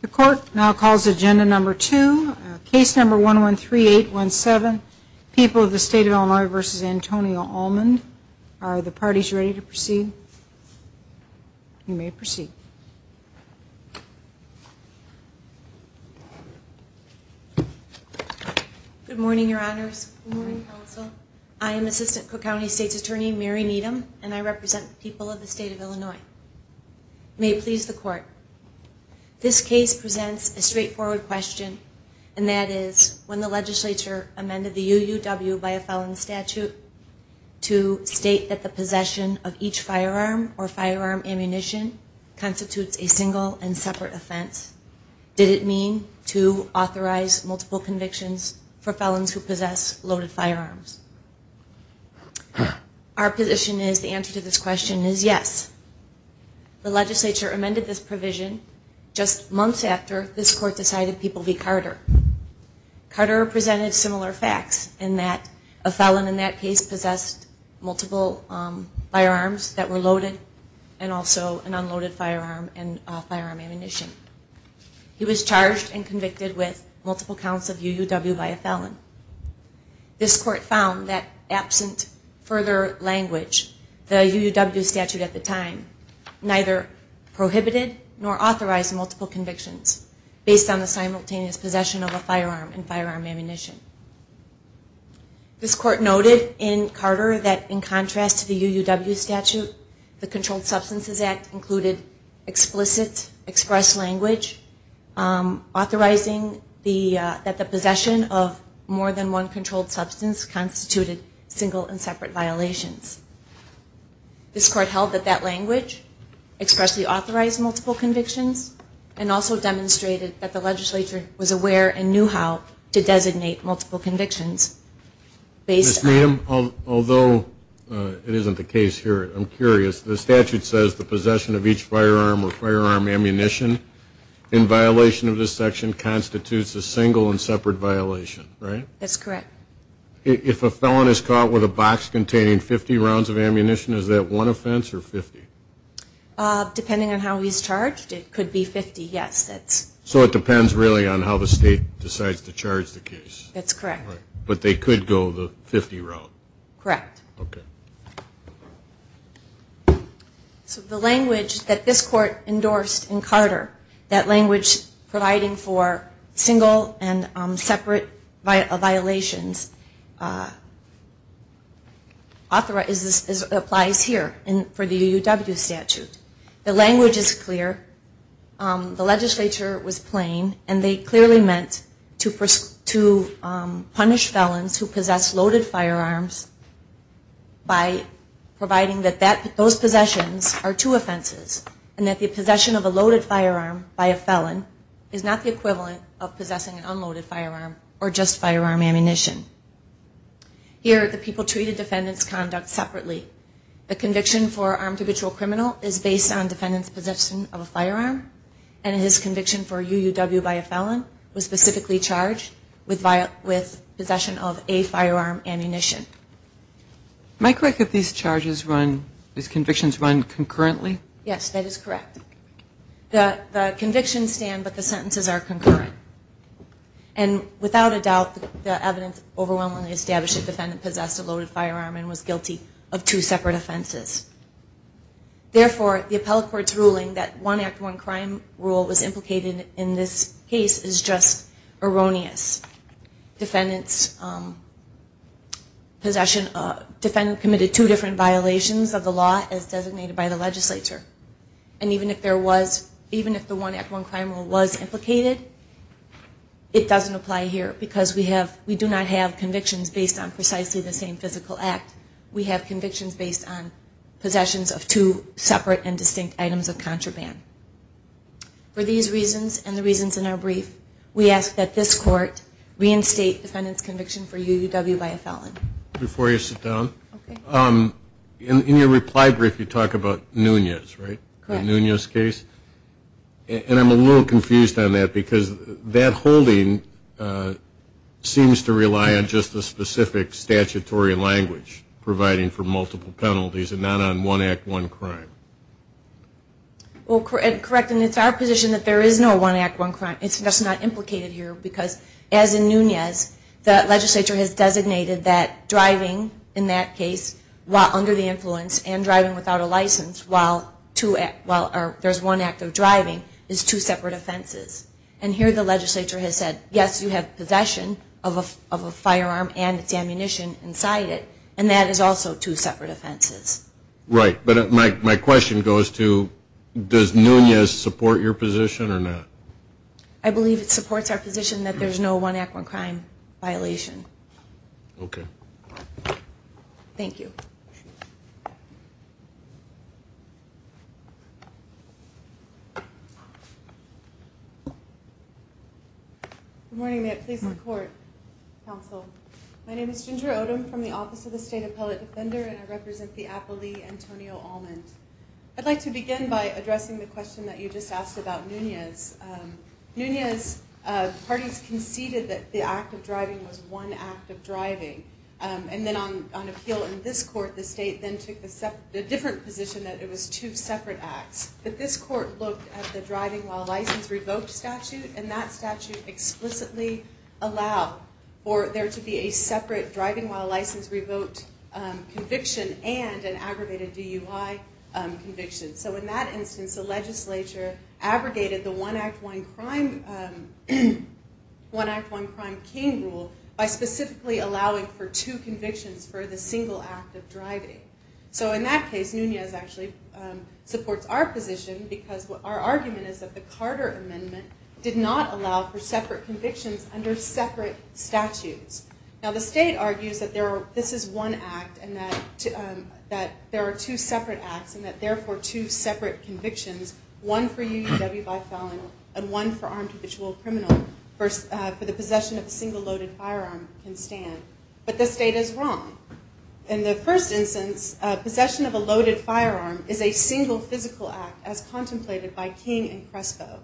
The court now calls agenda number two, case number 113817, People of the State of Illinois v. Antonio Almond. Are the parties ready to proceed? You may proceed. Good morning, Your Honors. I am Assistant Cook County State's Attorney Mary Needham, and I represent the people of the state of Illinois. May it please the court. This case presents a straightforward question, and that is, when the legislature amended the UUW by a felon statute to state that the possession of each firearm or firearm ammunition constitutes a single and separate offense, did it mean to authorize multiple convictions for a felon? Our position is the answer to this question is yes. The legislature amended this provision just months after this court decided People v. Carter. Carter presented similar facts in that a felon in that case possessed multiple firearms that were loaded and also an unloaded firearm and firearm ammunition. He was charged and convicted with multiple counts of UUW by a felon. This court noted in Carter that in contrast to the UUW statute, the Controlled Substances Act included explicit, expressed language authorizing that the possession of more than one controlled substance constituted single and separate violations. This court held that that language expressly authorized multiple convictions and also demonstrated that the legislature was aware and knew how to designate multiple convictions. Ms. Needham, although it isn't the case here, I'm curious. The statute says the possession of each firearm or firearm ammunition in violation of this section constitutes a single and separate violation, right? That's correct. If a felon is caught with a box containing 50 rounds of ammunition, is that one offense or 50? Depending on how he's charged, it could be 50, yes. So it depends really on how the state decides to charge the case? That's correct. But they could go the 50 route? Correct. Okay. So the language that this court endorsed in Carter, that applies here for the UUW statute. The language is clear. The legislature was plain and they clearly meant to punish felons who possess loaded firearms by providing that those possessions are two offenses and that the possession of a loaded firearm by a felon is not the equivalent of possessing an unloaded firearm or just firearm ammunition. Here, the people treated defendant's conduct separately. The conviction for armed habitual criminal is based on defendant's possession of a firearm and his conviction for UUW by a felon was specifically charged with possession of a firearm ammunition. Am I correct if these charges run, these convictions run concurrently? Yes, that is correct. The without a doubt, the evidence overwhelmingly established the defendant possessed a loaded firearm and was guilty of two separate offenses. Therefore, the appellate court's ruling that one act one crime rule was implicated in this case is just erroneous. Defendants possession, defendant committed two different violations of the law as designated by the legislature and even if there was, even if the one act one crime rule was implicated, it doesn't apply here because we have, we do not have convictions based on precisely the same physical act. We have convictions based on possessions of two separate and distinct items of contraband. For these reasons and the reasons in our brief, we ask that this court reinstate defendant's conviction for UUW by a felon. Before you sit down, in your reply brief you talk about Nunez, right? The Nunez case. And I'm a little confused on that because that holding seems to rely on just the specific statutory language providing for multiple penalties and not on one act one crime. Well, correct and it's our position that there is no one act one crime. It's just not implicated here because as in Nunez, the legislature has designated that driving in that case while under the influence and driving without a license while two, well there's one act of driving is two separate offenses. And here the legislature has said yes you have possession of a firearm and its ammunition inside it and that is also two separate offenses. Right, but my question goes to does Nunez support your position or not? I believe it supports our position that there's no one act one crime violation. Okay. Thank you. Good morning, may it please the court, counsel. My name is Ginger Odom from the Office of the State Appellate Defender and I represent the appellee Antonio Almond. I'd like to begin by addressing the question that you just asked about Nunez. Nunez's parties conceded that the act of driving was one act of driving and then on appeal in this court the state then took the separate, a different position that it was two separate acts. But this court looked at the driving while license revoked statute and that statute explicitly allowed for there to be a separate driving while license revoked conviction and an aggravated DUI conviction. So in that instance the legislature abrogated the one act one crime, one act one crime king rule by specifically allowing for two convictions for the single act of driving. So in that case Nunez actually supports our position because what our argument is that the Carter Amendment did not allow for separate convictions under separate statutes. Now the state argues that there are two separate acts and that therefore two separate convictions one for UUW by felon and one for armed habitual criminal for the possession of a single loaded firearm can stand. But the state is wrong. In the first instance possession of a loaded firearm is a single physical act as contemplated by King and Crespo.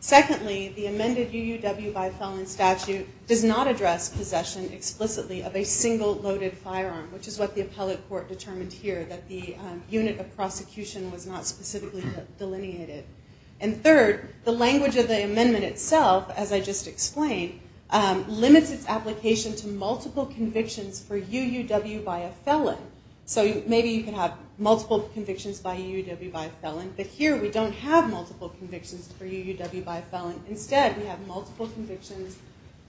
Secondly the amended UUW by felon statute does not address possession explicitly of a single loaded firearm which is what the appellate court determined here that the unit of prosecution was not specifically delineated. And third the language of the amendment itself as I just explained limits its application to multiple convictions for UUW by a felon. So maybe you can have multiple convictions by UUW by felon but here we don't have multiple convictions for UUW by felon. Instead we have multiple convictions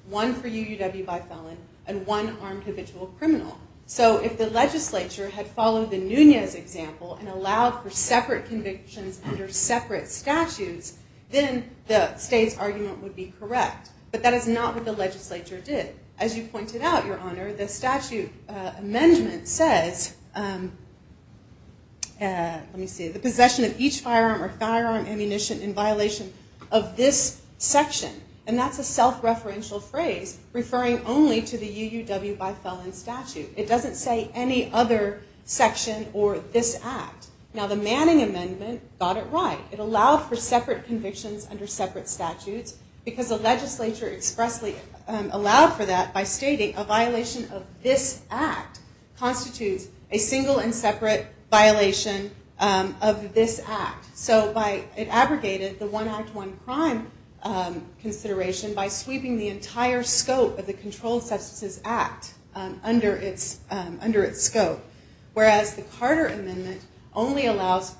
one for UUW by felon and one armed habitual criminal. So if the legislature had followed the Nunez example and allowed for separate convictions under separate statutes then the state's argument would be correct. But that is not what the legislature did. As you pointed out your honor the statute amendment says, let me see, the possession of each firearm or firearm ammunition in violation of this phrase referring only to the UUW by felon statute. It doesn't say any other section or this act. Now the Manning amendment got it right. It allowed for separate convictions under separate statutes because the legislature expressly allowed for that by stating a violation of this act constitutes a single and separate violation of this act. So by it abrogated the one act one crime consideration by sweeping the entire scope of the Controlled Substances Act under its under its scope. Whereas the Carter amendment only allows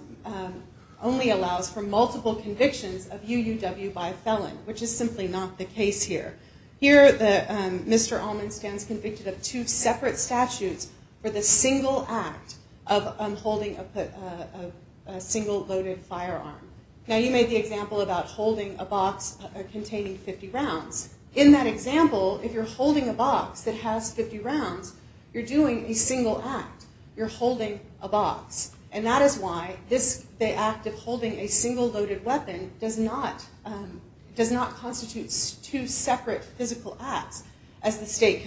only allows for multiple convictions of UUW by felon which is simply not the case here. Here the Mr. Allman stands convicted of two separate statutes for the single act of unholding a single loaded firearm. Now you made the example about holding a box containing 50 rounds. In that example if you're holding a box that has 50 rounds you're doing a single act. You're holding a box and that is why this the act of holding a single loaded weapon does not does not constitutes two separate physical acts as the state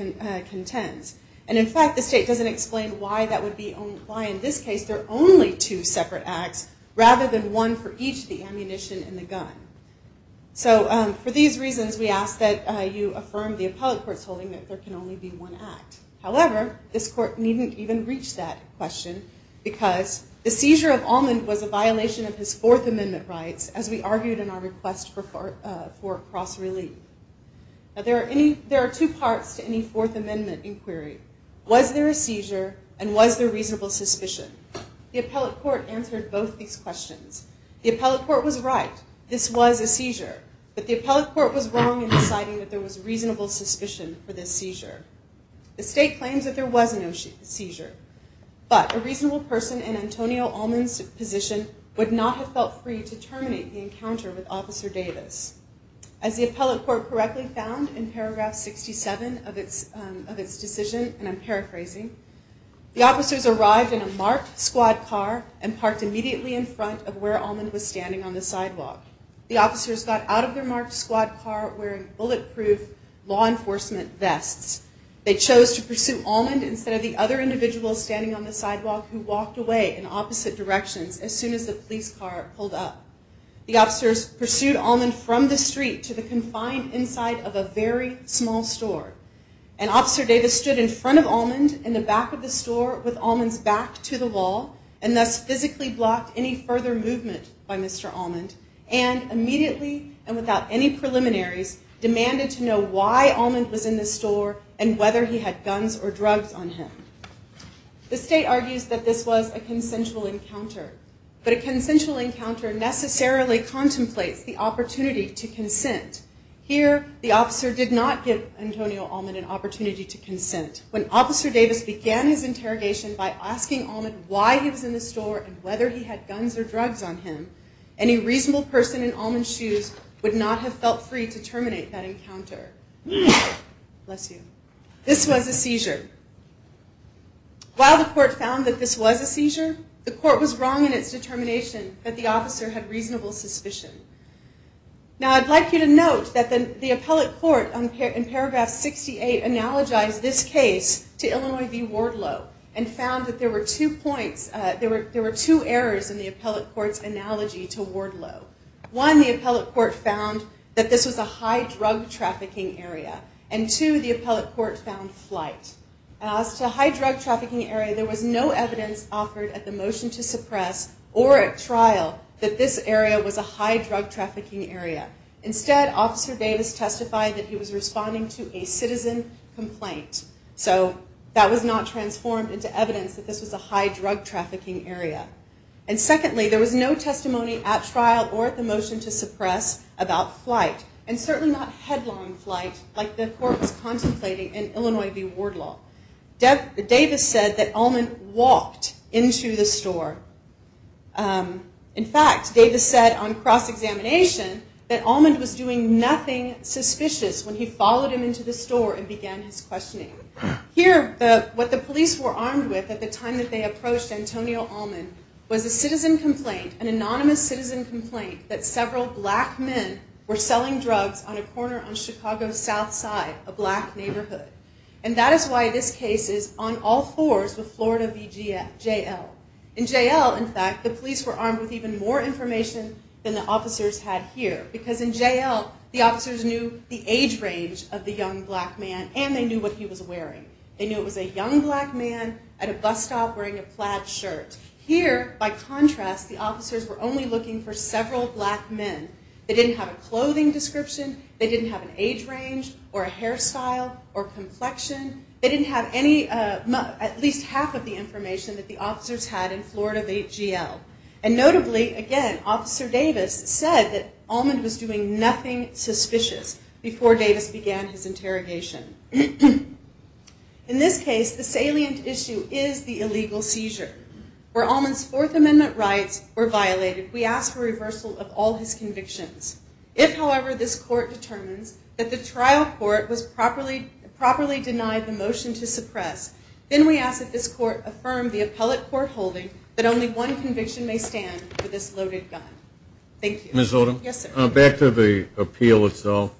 contends. And in fact the state doesn't explain why that would be only why in this case they're only two ammunition in the gun. So for these reasons we ask that you affirm the appellate court's holding that there can only be one act. However this court needn't even reach that question because the seizure of Allman was a violation of his Fourth Amendment rights as we argued in our request for for cross relief. Now there are any there are two parts to any Fourth Amendment inquiry. Was there a seizure and was there reasonable suspicion? The appellate court answered both these questions. The appellate court was right this was a seizure but the appellate court was wrong in deciding that there was reasonable suspicion for this seizure. The state claims that there was no seizure but a reasonable person in Antonio Allman's position would not have felt free to terminate the encounter with Officer Davis. As the appellate court correctly found in paragraph 67 of its of its decision and I'm paraphrasing, the officers arrived in a marked squad car and parked immediately in front of where Allman was standing on the sidewalk. The officers got out of their marked squad car wearing bulletproof law enforcement vests. They chose to pursue Allman instead of the other individuals standing on the sidewalk who walked away in opposite directions as soon as the police car pulled up. The officers pursued Allman from the street to the confined inside of a very small store. And Officer Davis stood in front of Allman in the back of the store with his back to the wall and thus physically blocked any further movement by Mr. Allman and immediately and without any preliminaries demanded to know why Allman was in the store and whether he had guns or drugs on him. The state argues that this was a consensual encounter but a consensual encounter necessarily contemplates the opportunity to consent. Here the officer did not give Antonio Allman an opportunity to consent. When Officer Davis began his interrogation by asking Allman why he was in the store and whether he had guns or drugs on him, any reasonable person in Allman's shoes would not have felt free to terminate that encounter. Bless you. This was a seizure. While the court found that this was a seizure, the court was wrong in its determination that the officer had reasonable suspicion. Now I'd like you to note that the appellate court in paragraph 68 analogized this case to Illinois v. Wardlow and found that there were two points, there were two errors in the appellate court's analogy to Wardlow. One, the appellate court found that this was a high drug trafficking area and two, the appellate court found flight. As to high drug trafficking area, there was no evidence offered at the motion to suppress or at trial that this area was a high drug trafficking area. Instead, Officer Davis testified that he was responding to a citizen complaint. So that was not transformed into evidence that this was a high drug trafficking area. And secondly, there was no testimony at trial or at the motion to suppress about flight and certainly not headlong flight like the court was contemplating in Illinois v. Wardlow. Davis said that Allman walked into the store. In fact, Davis said on cross-examination that Allman was doing nothing suspicious when he followed him to the store and began his questioning. Here, what the police were armed with at the time that they approached Antonio Allman was a citizen complaint, an anonymous citizen complaint, that several black men were selling drugs on a corner on Chicago's South Side, a black neighborhood. And that is why this case is on all fours with Florida v. JL. In JL, in fact, the police were armed with even more information than the officers had here because in JL the officers knew the age range of the young black man and they knew what he was wearing. They knew it was a young black man at a bus stop wearing a plaid shirt. Here, by contrast, the officers were only looking for several black men. They didn't have a clothing description. They didn't have an age range or a hairstyle or complexion. They didn't have any, at least half of the information that the officers had in Florida v. JL. And notably, again, Officer Davis said that Allman was doing nothing suspicious before Davis began his interrogation. In this case, the salient issue is the illegal seizure. Where Allman's Fourth Amendment rights were violated, we ask for reversal of all his convictions. If, however, this court determines that the trial court was properly denied the motion to suppress, then we ask that this court affirm the appellate court holding that only one conviction may stand for this loaded gun. Thank you. Ms. Odom? Yes, sir. Back to the appeal itself,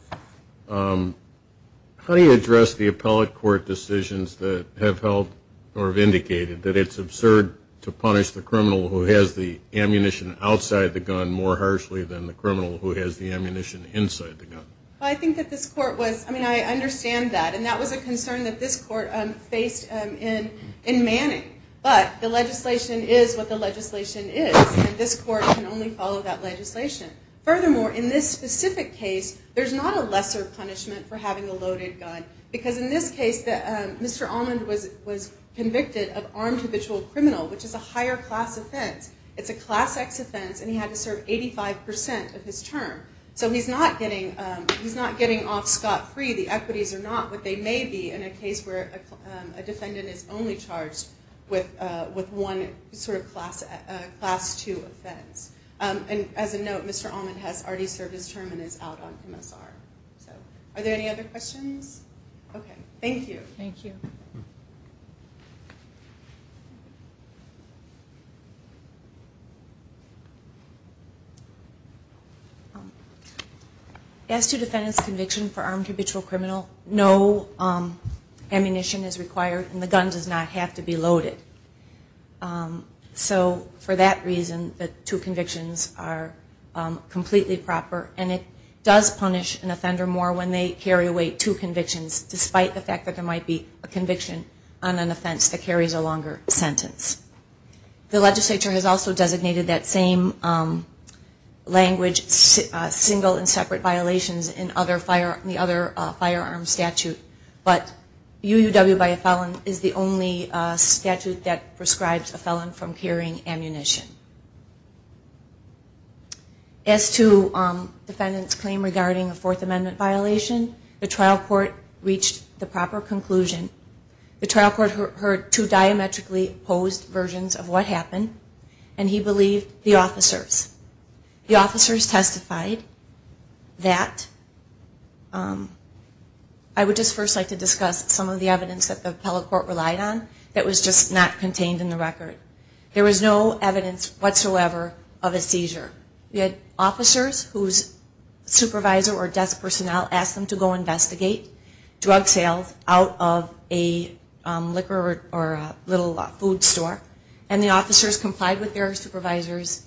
how do you address the appellate court decisions that have held or have indicated that it's absurd to punish the criminal who has the ammunition outside the gun more harshly than the criminal who has the ammunition inside the gun? I think that this court was, I mean, I understand that and that was a concern that this court faced in Manning, but the legislation is what the legislation is. This court can only follow that legislation. Furthermore, in this specific case, there's not a lesser punishment for having a loaded gun because in this case, Mr. Allman was convicted of armed habitual criminal, which is a higher class offense. It's a class X offense and he had to serve 85% of his term. So he's not getting off scot-free. The equities are not what they may be in a case where a defendant is only charged with one sort of class 2 offense. And as a note, Mr. Allman has already served his term and is out on MSR. Are there any other questions? Okay, thank you. Thank you. As to defendant's conviction for armed habitual criminal, no ammunition is loaded. So for that reason, the two convictions are completely proper and it does punish an offender more when they carry away two convictions, despite the fact that there might be a conviction on an offense that carries a longer sentence. The legislature has also designated that same language, single and separate violations, in the other firearm statute. But UUW by felon is the only statute that prescribes a felon from carrying ammunition. As to defendant's claim regarding a Fourth Amendment violation, the trial court reached the proper conclusion. The trial court heard two diametrically opposed versions of what happened and he believed the officers. The officers testified that, I would just first like to discuss some of the evidence that the appellate court relied on that was just not contained in the record. There was no evidence whatsoever of a seizure. We had officers whose supervisor or desk personnel asked them to go investigate drug sales out of a liquor or little food store. And the officers complied with their supervisor's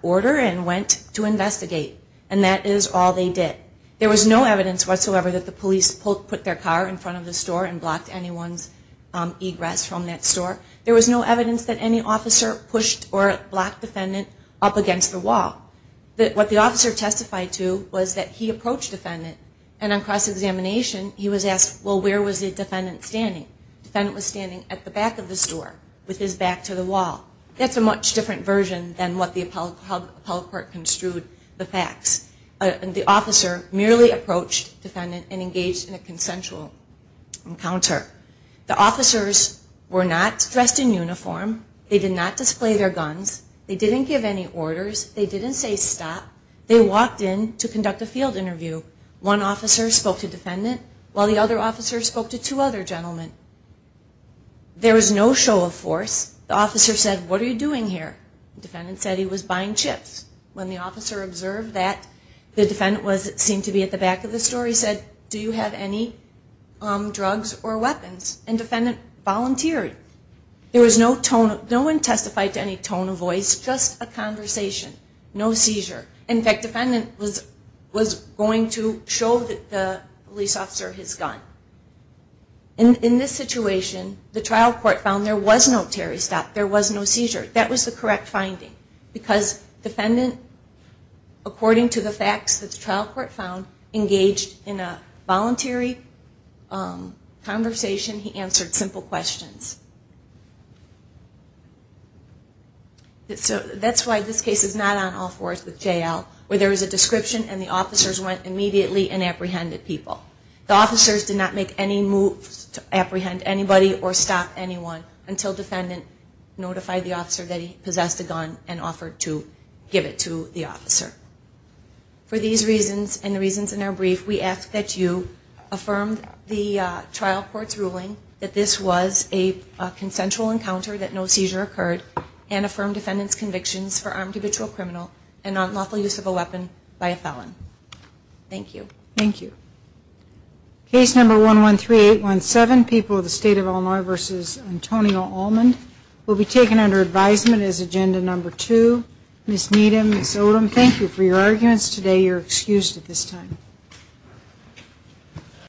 order and went to investigate. And that is all they did. There was no evidence whatsoever that the police put their car in front of the store. There was no evidence that any officer pushed or blocked defendant up against the wall. What the officer testified to was that he approached defendant and on cross-examination he was asked, well where was the defendant standing? The defendant was standing at the back of the store with his back to the wall. That's a much different version than what the appellate court construed the facts. The officer merely approached defendant and engaged in a The officers were not dressed in uniform. They did not display their guns. They didn't give any orders. They didn't say stop. They walked in to conduct a field interview. One officer spoke to defendant while the other officer spoke to two other gentlemen. There was no show of force. The officer said, what are you doing here? The defendant said he was buying chips. When the officer observed that, the defendant seemed to be at the back of the store. He said, do you have any drugs or weapons? And defendant volunteered. There was no tone. No one testified to any tone of voice. Just a conversation. No seizure. In fact, defendant was going to show the police officer his gun. In this situation, the trial court found there was no terrorist act. There was no seizure. That was the correct finding because defendant, according to the voluntary conversation, he answered simple questions. That's why this case is not on all fours with J.L. where there was a description and the officers went immediately and apprehended people. The officers did not make any moves to apprehend anybody or stop anyone until defendant notified the officer that he possessed a gun and offered to give it to the officer. For these reasons and reasons in our brief, we ask that you affirm the trial court's ruling that this was a consensual encounter, that no seizure occurred, and affirm defendant's convictions for armed habitual criminal and unlawful use of a weapon by a felon. Thank you. Thank you. Case number 113817, People of the State of Illinois v. Antonio Almond, will be taken under advisement as agenda number two. Ms. Needham, Ms. Odom, thank you for your arguments today. You're excused at this time.